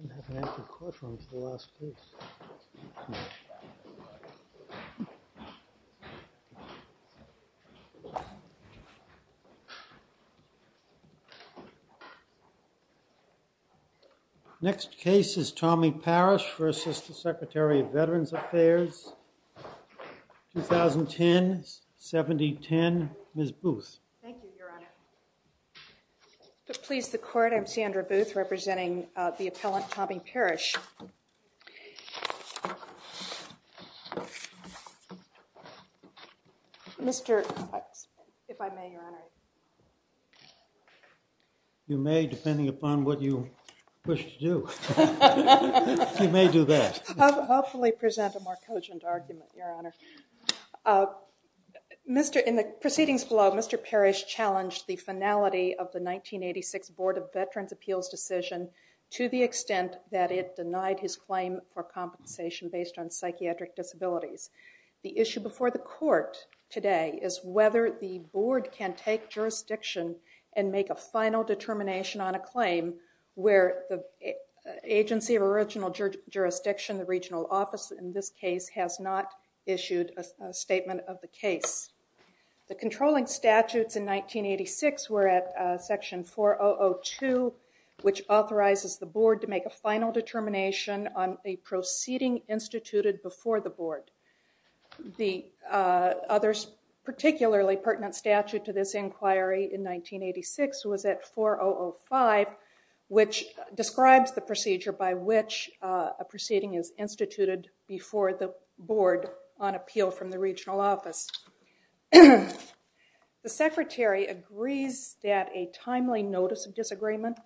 I'm going to have to call him for the last piece. Next case is Tommy Parrish v. Secretary of Veterans Affairs, 2010-7010, Ms. Booth. Thank you, Your Honor. To please the court, I'm Sandra Booth, representing the appellant Tommy Parrish. Mr. Cox, if I may, Your Honor. You may, depending upon what you push to do. You may do that. I'll hopefully present a more cogent argument, Your Honor. In the proceedings below, Mr. Parrish challenged the finality of the 1986 Board of Veterans Appeals decision to the extent that it denied his claim for compensation based on psychiatric disabilities. The issue before the court today is whether the board can take jurisdiction and make a final determination on a claim where the agency of original jurisdiction, the regional office in this case, has not issued a statement of the case. The controlling statutes in 1986 were at section 4002, which authorizes the board to make a final determination on a proceeding instituted before the board. The other particularly pertinent statute to this inquiry in 1986 was at 4005, which describes the procedure by which a proceeding is instituted before the board on appeal from the regional office. The secretary agrees that a timely notice of disagreement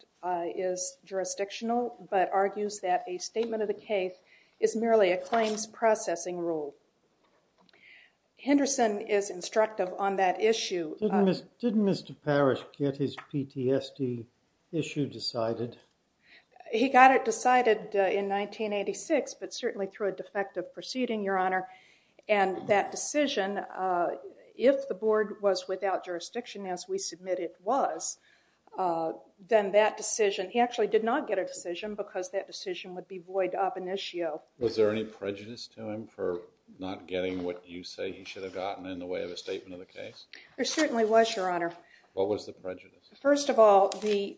is jurisdictional, but argues that a statement of the case is merely a claims processing rule. Henderson is instructive on that issue. Didn't Mr. Parrish get his PTSD issue decided? He got it decided in 1986, but certainly through a defective proceeding, Your Honor, and that decision, if the board was without jurisdiction as we submit it was, then that decision, he actually did not get a decision because that decision would be void of an issue. Was there any prejudice to him for not getting what you say he should have gotten in the way of a statement of the case? There certainly was, Your Honor. What was the prejudice? First of all, the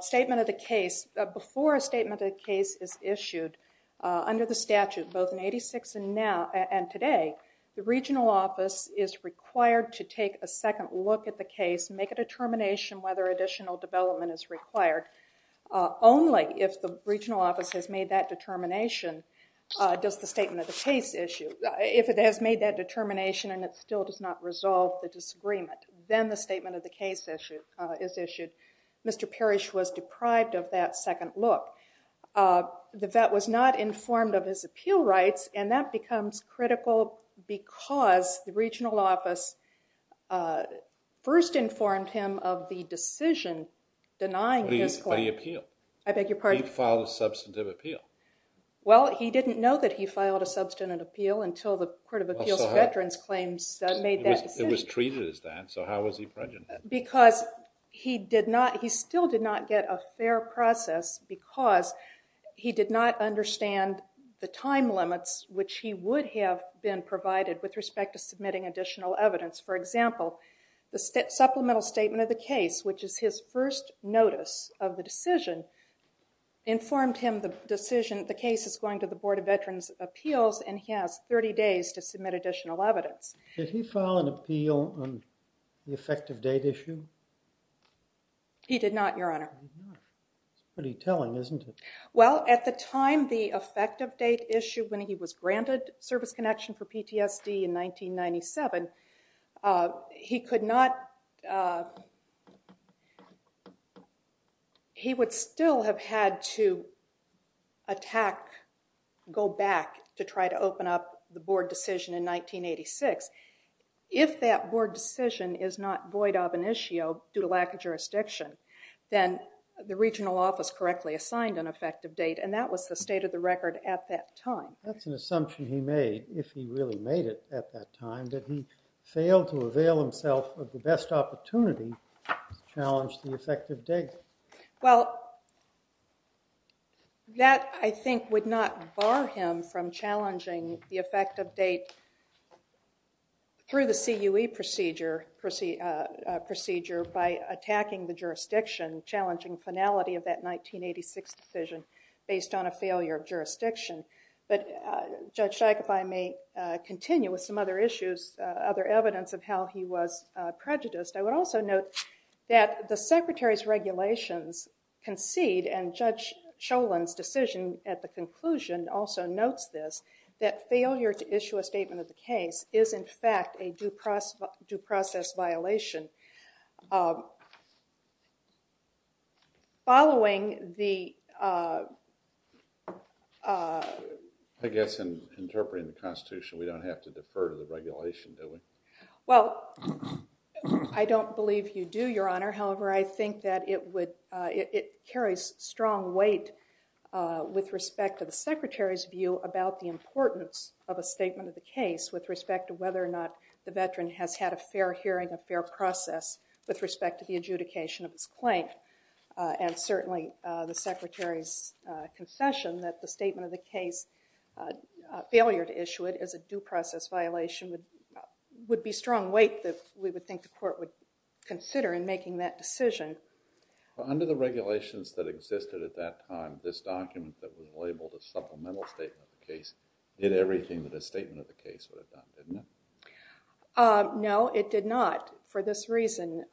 statement of the case, before a statement of the case is issued under the statute, both in 1986 and today, the regional office is required to take a second look at the case, make a determination whether additional development is required. Only if the regional office has made that determination does the statement of the case issue. If it has made that determination and it still does not resolve the disagreement, then the statement of the case is issued. Mr. Parrish was deprived of that second look. The vet was not informed of his appeal rights, and that becomes critical because the regional office first informed him of the decision denying his claim. What did he appeal? I beg your pardon? He filed a substantive appeal. Well, he didn't know that he filed a substantive appeal until the Court of Appeals Veterans Claims made that decision. It was treated as that, so how was he prejudiced? Because he still did not get a fair process because he did not understand the time limits which he would have been provided with respect to submitting additional evidence. For example, the supplemental statement of the case, which is his first notice of the decision, informed him the case is going to the Board of Veterans' Appeals and he has 30 days to submit additional evidence. Did he file an appeal on the effective date issue? He did not, Your Honor. That's pretty telling, isn't it? Well, at the time the effective date issue, when he was granted service connection for PTSD in 1997, he would still have had to attack, go back to try to open up the board decision in 1986. If that board decision is not void of an issue due to lack of jurisdiction, then the regional office correctly assigned an effective date and that was the state of the record at that time. That's an assumption he made, if he really made it at that time, that he failed to avail himself of the best opportunity to challenge the effective date. Well, that, I think, would not bar him from challenging the effective date through the CUE procedure by attacking the jurisdiction, challenging finality of that 1986 decision based on a failure of jurisdiction. But Judge Scheich, if I may continue with some other issues, other evidence of how he was prejudiced, I would also note that the Secretary's regulations concede, and Judge Cholin's decision at the conclusion also notes this, that failure to issue a statement of the case is, in fact, a due process violation. Following the... I guess in interpreting the Constitution, we don't have to defer to the regulation, do we? Well, I don't believe you do, Your Honor. However, I think that it carries strong weight with respect to the Secretary's view about the importance of a statement of the case with respect to whether or not the veteran has had a fair hearing, a fair process, with respect to the adjudication of his claim. And certainly, the Secretary's confession that the statement of the case, failure to issue it, is a due process violation would be strong weight that we would think the Court would consider in making that decision. Under the regulations that existed at that time, this document that was labeled a supplemental statement of the case did everything that a statement of the case would have done, didn't it? No, it did not, for this reason.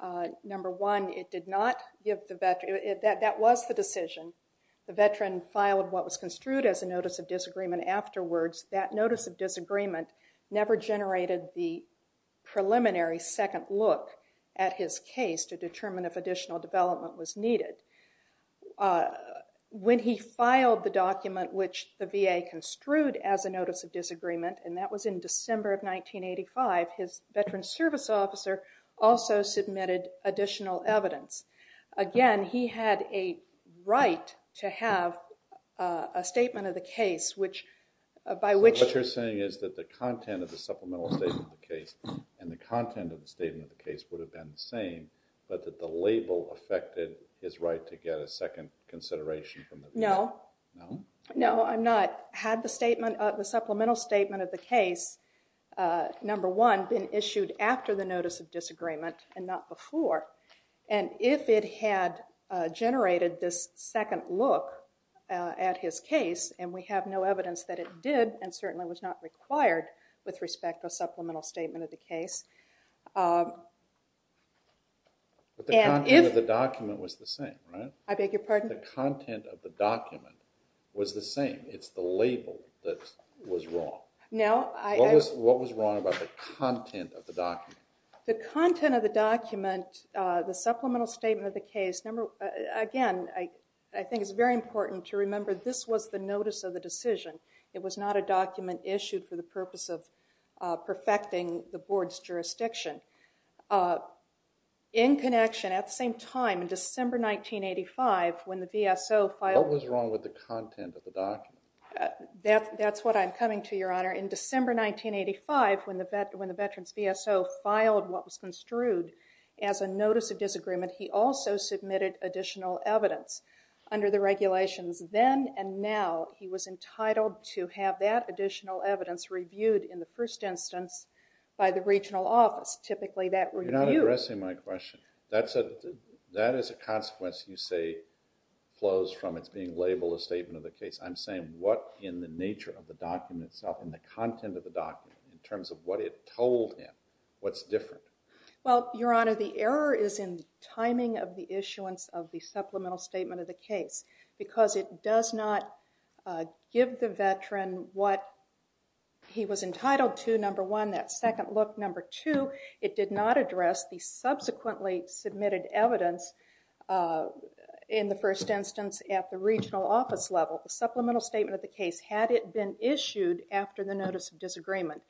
Number one, it did not give the veteran... that was the decision. The veteran filed what was construed as a notice of disagreement afterwards. That notice of disagreement never generated the preliminary second look at his case to determine if additional development was needed. When he filed the document which the VA construed as a notice of disagreement, and that was in December of 1985, his veteran's service officer also submitted additional evidence. Again, he had a right to have a statement of the case which, by which... So what you're saying is that the content of the supplemental statement of the case and the content of the statement of the case would have been the same, but that the label affected his right to get a second consideration from the VA? No. No? No, I'm not. Had the supplemental statement of the case, number one, been issued after the notice of disagreement and not before, and if it had generated this second look at his case, and we have no evidence that it did and certainly was not required with respect to a supplemental statement of the case... But the content of the document was the same, right? I beg your pardon? The content of the document was the same. It's the label that was wrong. No, I... What was wrong about the content of the document? The content of the document, the supplemental statement of the case... Again, I think it's very important to remember this was the notice of the decision. It was not a document issued for the purpose of perfecting the board's jurisdiction. In connection, at the same time, in December 1985, when the VSO filed... What was wrong with the content of the document? That's what I'm coming to, Your Honor. In December 1985, when the veteran's VSO filed what was construed as a notice of disagreement, he also submitted additional evidence under the regulations. Then and now, he was entitled to have that additional evidence reviewed in the first instance by the regional office. Typically, that review... You're not addressing my question. That is a consequence you say flows from its being labeled a statement of the case. I'm saying what in the nature of the document itself, in the content of the document, in terms of what it told him, what's different? Well, Your Honor, the error is in the timing of the issuance of the supplemental statement of the case because it does not give the veteran what he was entitled to. Number one, that second look. Number two, it did not address the subsequently submitted evidence in the first instance at the regional office level. The supplemental statement of the case, had it been issued after the notice of disagreement,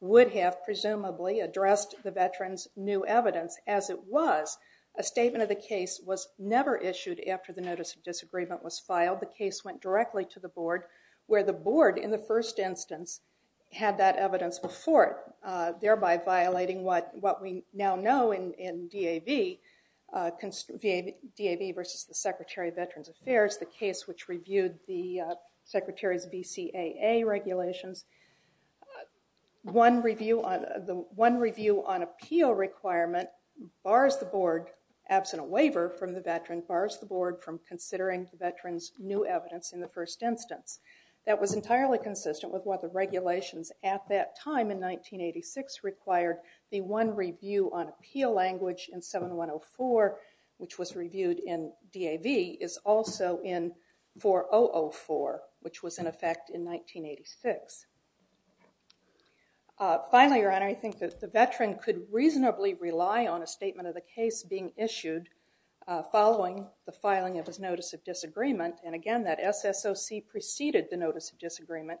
would have presumably addressed the veteran's new evidence as it was. A statement of the case was never issued after the notice of disagreement was filed. The case went directly to the board where the board, in the first instance, had that evidence before it, thereby violating what we now know in DAV versus the Secretary of Veterans Affairs, the case which reviewed the Secretary's BCAA regulations. One review on appeal requirement bars the board, absent a waiver from the veteran, bars the board from considering the veteran's new evidence in the first instance. That was entirely consistent with what the regulations at that time in 1986 required. The one review on appeal language in 7104, which was reviewed in DAV, is also in 4004, which was in effect in 1986. Finally, Your Honor, I think that the veteran could reasonably rely on a statement of the case being issued following the filing of his notice of disagreement. And again, that SSOC preceded the notice of disagreement.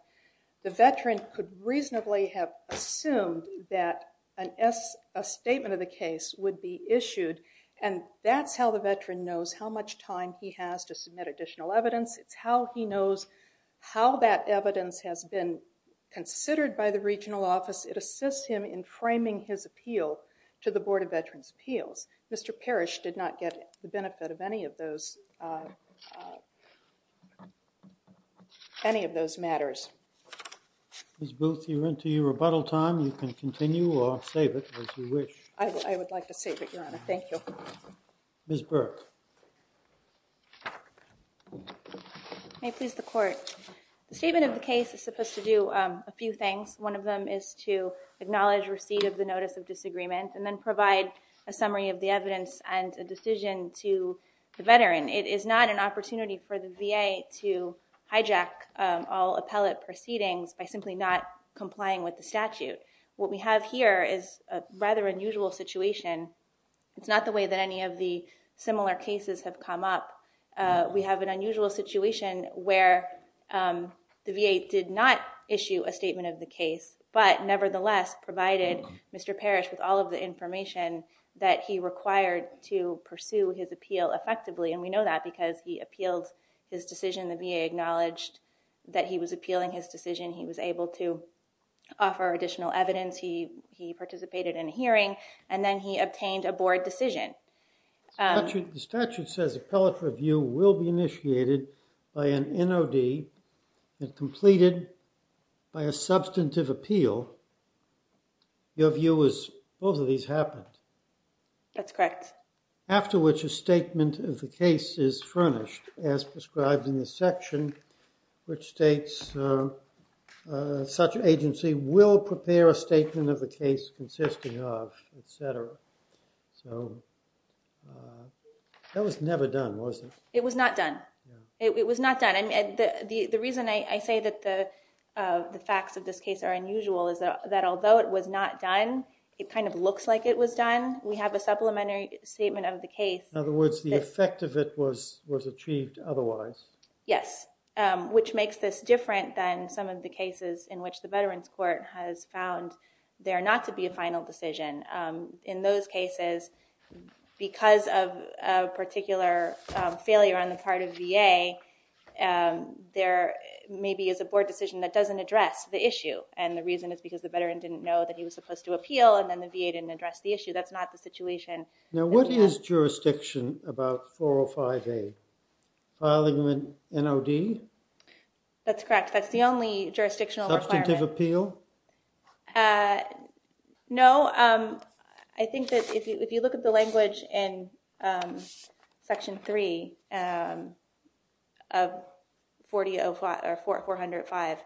The veteran could reasonably have assumed that a statement of the case would be issued, and that's how the veteran knows how much time he has to submit additional evidence. It's how he knows how that evidence has been considered by the regional office. It assists him in framing his appeal to the Board of Veterans' Appeals. Mr. Parrish did not get the benefit of any of those matters. Ms. Booth, you're into your rebuttal time. You can continue or save it as you wish. I would like to save it, Your Honor. Thank you. Ms. Burke. May it please the Court. The statement of the case is supposed to do a few things. One of them is to acknowledge receipt of the notice of disagreement and then provide a summary of the evidence and a decision to the veteran. It is not an opportunity for the VA to hijack all appellate proceedings by simply not complying with the statute. What we have here is a rather unusual situation. It's not the way that any of the similar cases have come up. We have an unusual situation where the VA did not issue a statement of the case but nevertheless provided Mr. Parrish with all of the information that he required to pursue his appeal effectively, and we know that because he appealed his decision. The VA acknowledged that he was appealing his decision. He was able to offer additional evidence. He participated in a hearing, and then he obtained a board decision. The statute says appellate review will be initiated by an NOD and completed by a substantive appeal. Your view is both of these happened. That's correct. After which a statement of the case is furnished as prescribed in the section which states such agency will prepare a statement of the case consisting of, et cetera. That was never done, was it? It was not done. It was not done. The reason I say that the facts of this case are unusual is that although it was not done, it kind of looks like it was done. We have a supplementary statement of the case. In other words, the effect of it was achieved otherwise. Yes, which makes this different than some of the cases in which the Veterans Court has found there not to be a final decision. In those cases, because of a particular failure on the part of VA, there maybe is a board decision that doesn't address the issue, and the reason is because the veteran didn't know that he was supposed to appeal and then the VA didn't address the issue. That's not the situation. Now, what is jurisdiction about 405A? Filing an NOD? That's correct. That's the only jurisdictional requirement. Substantive appeal? No. I think that if you look at the language in Section 3 of 405,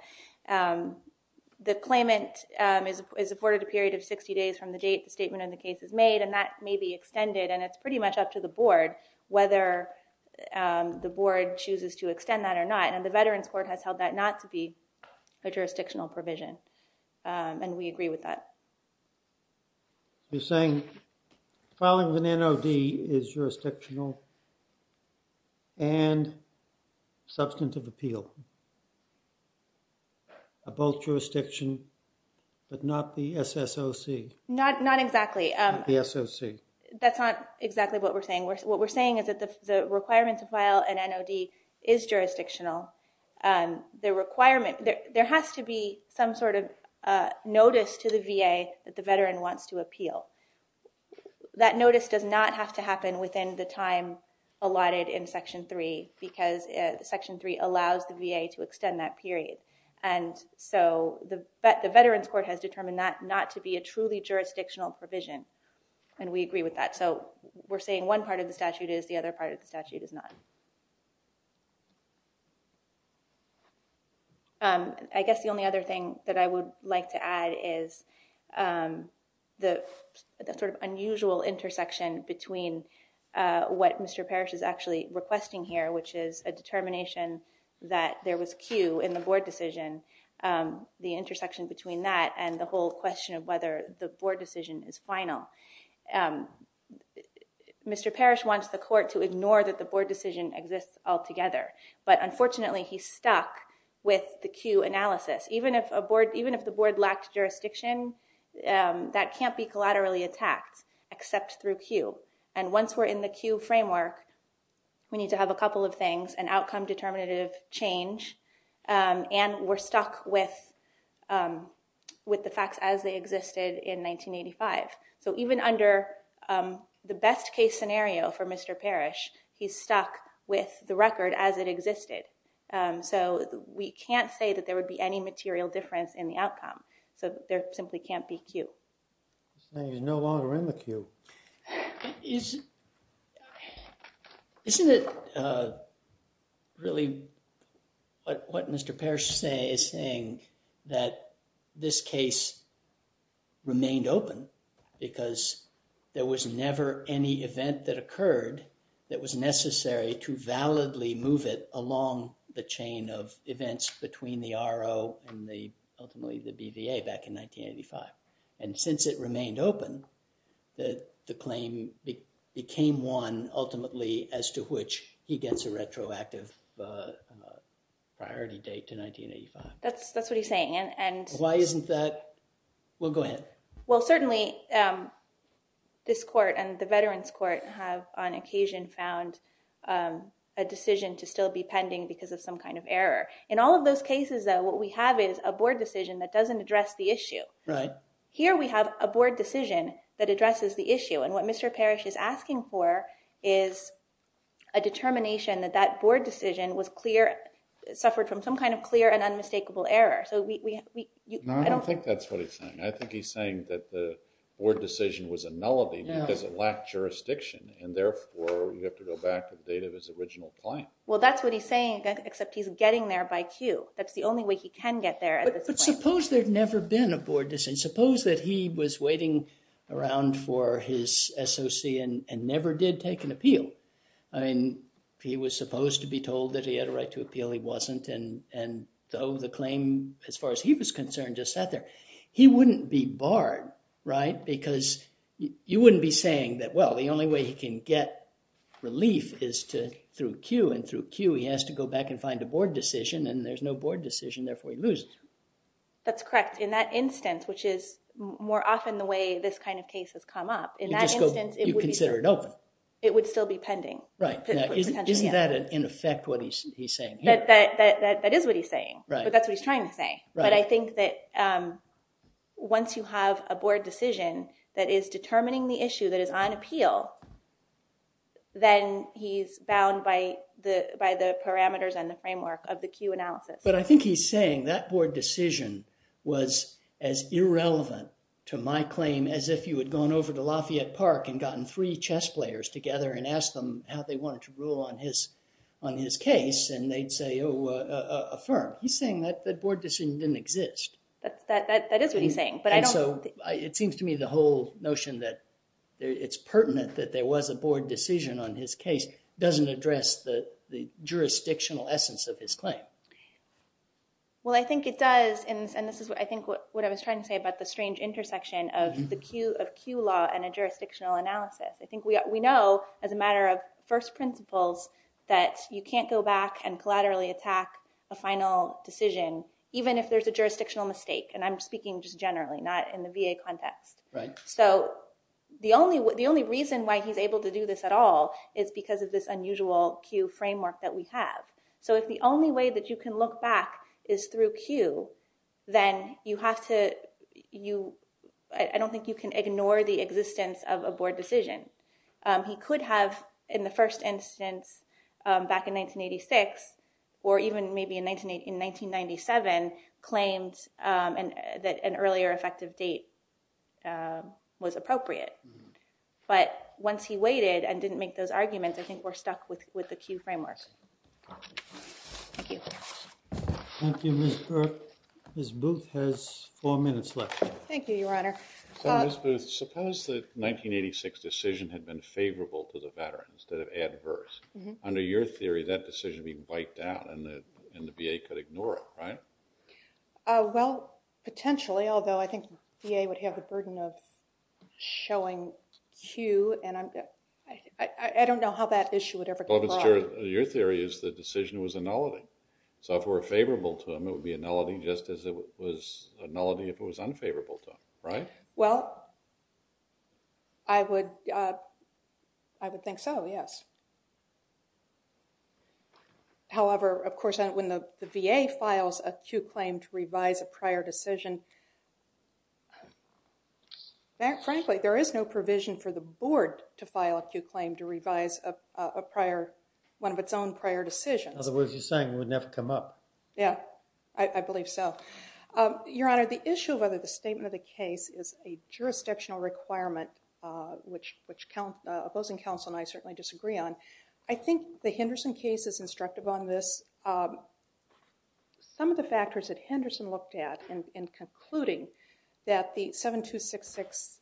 the claimant is afforded a period of 60 days from the date the statement on the case is made, and that may be extended, and it's pretty much up to the board whether the board chooses to extend that or not. And the Veterans Court has held that not to be a jurisdictional provision, and we agree with that. You're saying filing an NOD is jurisdictional and substantive appeal? Both jurisdiction, but not the SSOC? Not exactly. The SOC. That's not exactly what we're saying. What we're saying is that the requirement to file an NOD is jurisdictional. There has to be some sort of notice to the VA that the veteran wants to appeal. That notice does not have to happen within the time allotted in Section 3 because Section 3 allows the VA to extend that period. And so the Veterans Court has determined that not to be a truly jurisdictional provision, and we agree with that. So we're saying one part of the statute is, the other part of the statute is not. I guess the only other thing that I would like to add is the sort of unusual intersection between what Mr. Parrish is actually requesting here, which is a determination that there was cue in the board decision, the intersection between that and the whole question of whether the board decision is final. Mr. Parrish wants the court to ignore that the board decision exists altogether, but unfortunately he's stuck with the cue analysis. Even if the board lacked jurisdiction, that can't be collaterally attacked except through cue. And once we're in the cue framework, we need to have a couple of things, an outcome determinative change, and we're stuck with the facts as they existed in 1985. So even under the best case scenario for Mr. Parrish, he's stuck with the record as it existed. So we can't say that there would be any material difference in the outcome. So there simply can't be cue. He's no longer in the cue. Isn't it really what Mr. Parrish is saying, that this case remained open because there was never any event that occurred that was necessary to validly move it along the chain of events between the RO and ultimately the BVA back in 1985? And since it remained open, the claim became one ultimately as to which he gets a retroactive priority date to 1985. That's what he's saying. Why isn't that? Well, go ahead. Well, certainly this court and the Veterans Court have on occasion found a decision to still be pending because of some kind of error. In all of those cases, though, what we have is a board decision that doesn't address the issue. Right. Here we have a board decision that addresses the issue. And what Mr. Parrish is asking for is a determination that that board decision was clear, suffered from some kind of clear and unmistakable error. No, I don't think that's what he's saying. I think he's saying that the board decision was a nullity because it lacked jurisdiction, and therefore you have to go back to the date of his original claim. Well, that's what he's saying, except he's getting there by cue. That's the only way he can get there at this point. But suppose there'd never been a board decision. Suppose that he was waiting around for his SOC and never did take an appeal. I mean, he was supposed to be told that he had a right to appeal. He wasn't, and though the claim, as far as he was concerned, just sat there. He wouldn't be barred, right? Because you wouldn't be saying that, well, the only way he can get relief is through cue, and through cue he has to go back and find a board decision, and there's no board decision, therefore he loses. That's correct. In that instance, which is more often the way this kind of case has come up, in that instance, it would still be pending. Isn't that, in effect, what he's saying here? That is what he's saying, but that's what he's trying to say. But I think that once you have a board decision that is determining the issue that is on appeal, then he's bound by the parameters and the framework of the cue analysis. But I think he's saying that board decision was as irrelevant to my claim as if you had gone over to Lafayette Park and gotten three chess players together and asked them how they wanted to rule on his case, and they'd say, oh, affirm. He's saying that board decision didn't exist. That is what he's saying. It seems to me the whole notion that it's pertinent that there was a board decision on his case doesn't address the jurisdictional essence of his claim. Well, I think it does, and this is what I was trying to say about the strange intersection of cue law and a jurisdictional analysis. I think we know as a matter of first principles that you can't go back and collaterally attack a final decision, even if there's a jurisdictional mistake, and I'm speaking just generally, not in the VA context. So the only reason why he's able to do this at all is because of this unusual cue framework that we have. So if the only way that you can look back is through cue, then you have to – I don't think you can ignore the existence of a board decision. He could have, in the first instance back in 1986, or even maybe in 1997, claimed that an earlier effective date was appropriate. But once he waited and didn't make those arguments, I think we're stuck with the cue framework. Thank you. Thank you, Ms. Burke. Ms. Booth has four minutes left. Thank you, Your Honor. Ms. Booth, suppose the 1986 decision had been favorable to the veterans instead of adverse. Under your theory, that decision would be wiped out and the VA could ignore it, right? Well, potentially, although I think VA would have the burden of showing cue, and I don't know how that issue would ever come across. Your theory is the decision was a nullity. So if it were favorable to them, it would be a nullity, just as it was a nullity if it was unfavorable to them, right? Well, I would think so, yes. However, of course, when the VA files a cue claim to revise a prior decision, frankly, there is no provision for the board to file a cue claim to revise a prior – one of its own prior decisions. In other words, you're saying it wouldn't have come up. Yeah, I believe so. Your Honor, the issue of whether the statement of the case is a jurisdictional requirement, which opposing counsel and I certainly disagree on, I think the Henderson case is instructive on this. Some of the factors that Henderson looked at in concluding that the 7266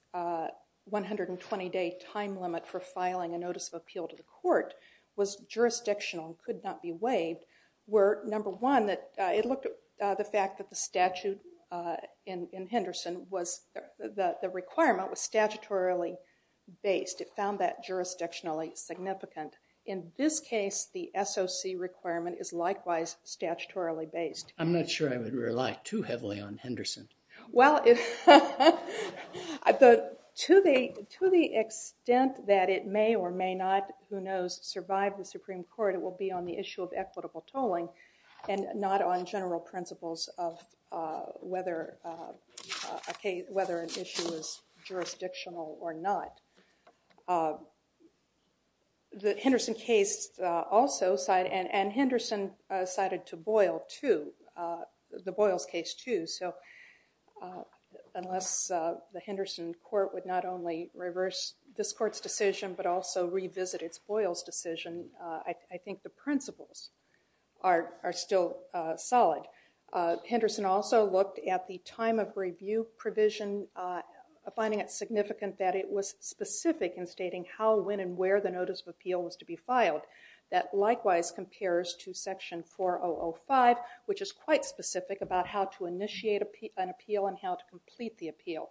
120-day time limit for filing a notice of appeal to the court was jurisdictional and could not be waived were, number one, it looked at the fact that the statute in Henderson was – the requirement was statutorily based. It found that jurisdictionally significant. In this case, the SOC requirement is likewise statutorily based. I'm not sure I would rely too heavily on Henderson. Well, to the extent that it may or may not, who knows, survive the Supreme Court, it will be on the issue of equitable tolling and not on general principles of whether an issue is jurisdictional or not. The Henderson case also – and Henderson cited to Boyle too, the Boyles case too, so unless the Henderson court would not only reverse this court's decision but also revisit its Boyles decision, I think the principles are still solid. Henderson also looked at the time of review provision, finding it significant that it was specific in stating how, when, and where the notice of appeal was to be filed. That likewise compares to Section 4005, which is quite specific about how to initiate an appeal and how to complete the appeal.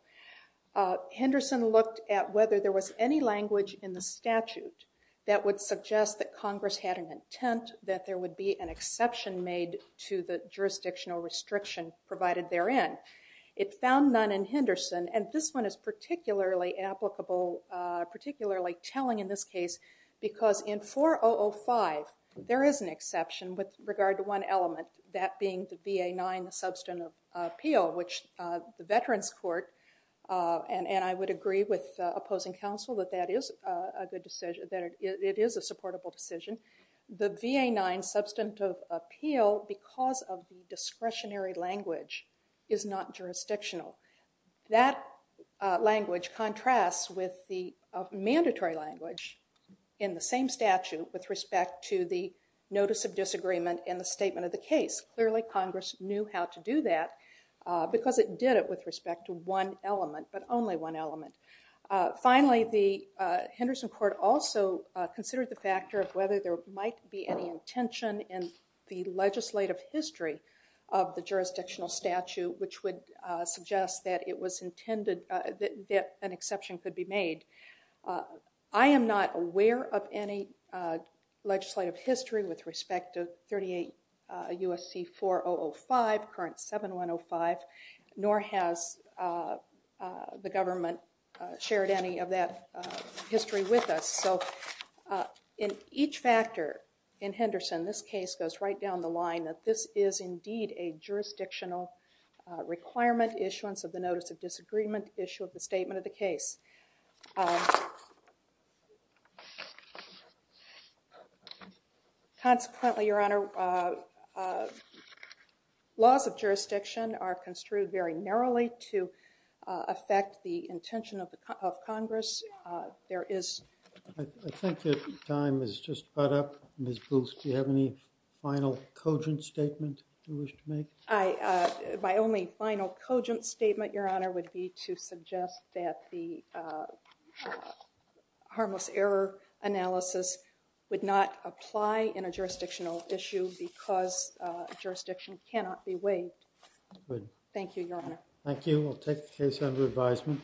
Henderson looked at whether there was any language in the statute that would suggest that Congress had an intent that there would be an exception made to the jurisdictional restriction provided therein. It found none in Henderson, and this one is particularly applicable, particularly telling in this case, because in 4005, there is an exception with regard to one element, that being the VA-9 substantive appeal, which the Veterans Court, and I would agree with opposing counsel that that is a good decision, that it is a supportable decision. The VA-9 substantive appeal, because of the discretionary language, is not jurisdictional. That language contrasts with the mandatory language in the same statute with respect to the notice of disagreement in the statement of the case. Clearly, Congress knew how to do that because it did it with respect to one element, but only one element. Finally, the Henderson Court also considered the factor of whether there might be any intention in the legislative history of the jurisdictional statute, which would suggest that it was intended that an exception could be made. I am not aware of any legislative history with respect to 38 U.S.C. 4005, current 7105, nor has the government shared any of that history with us. So in each factor in Henderson, this case goes right down the line that this is indeed a jurisdictional requirement issuance of the notice of disagreement issue of the statement of the case. Consequently, Your Honor, laws of jurisdiction are construed very narrowly to affect the intention of Congress. I think your time has just caught up. Ms. Booth, do you have any final, cogent statement you wish to make? My only final cogent statement, Your Honor, would be to suggest that the harmless error analysis would not apply in a jurisdictional issue because jurisdiction cannot be waived. Thank you, Your Honor. Thank you. We'll take the case under advisement.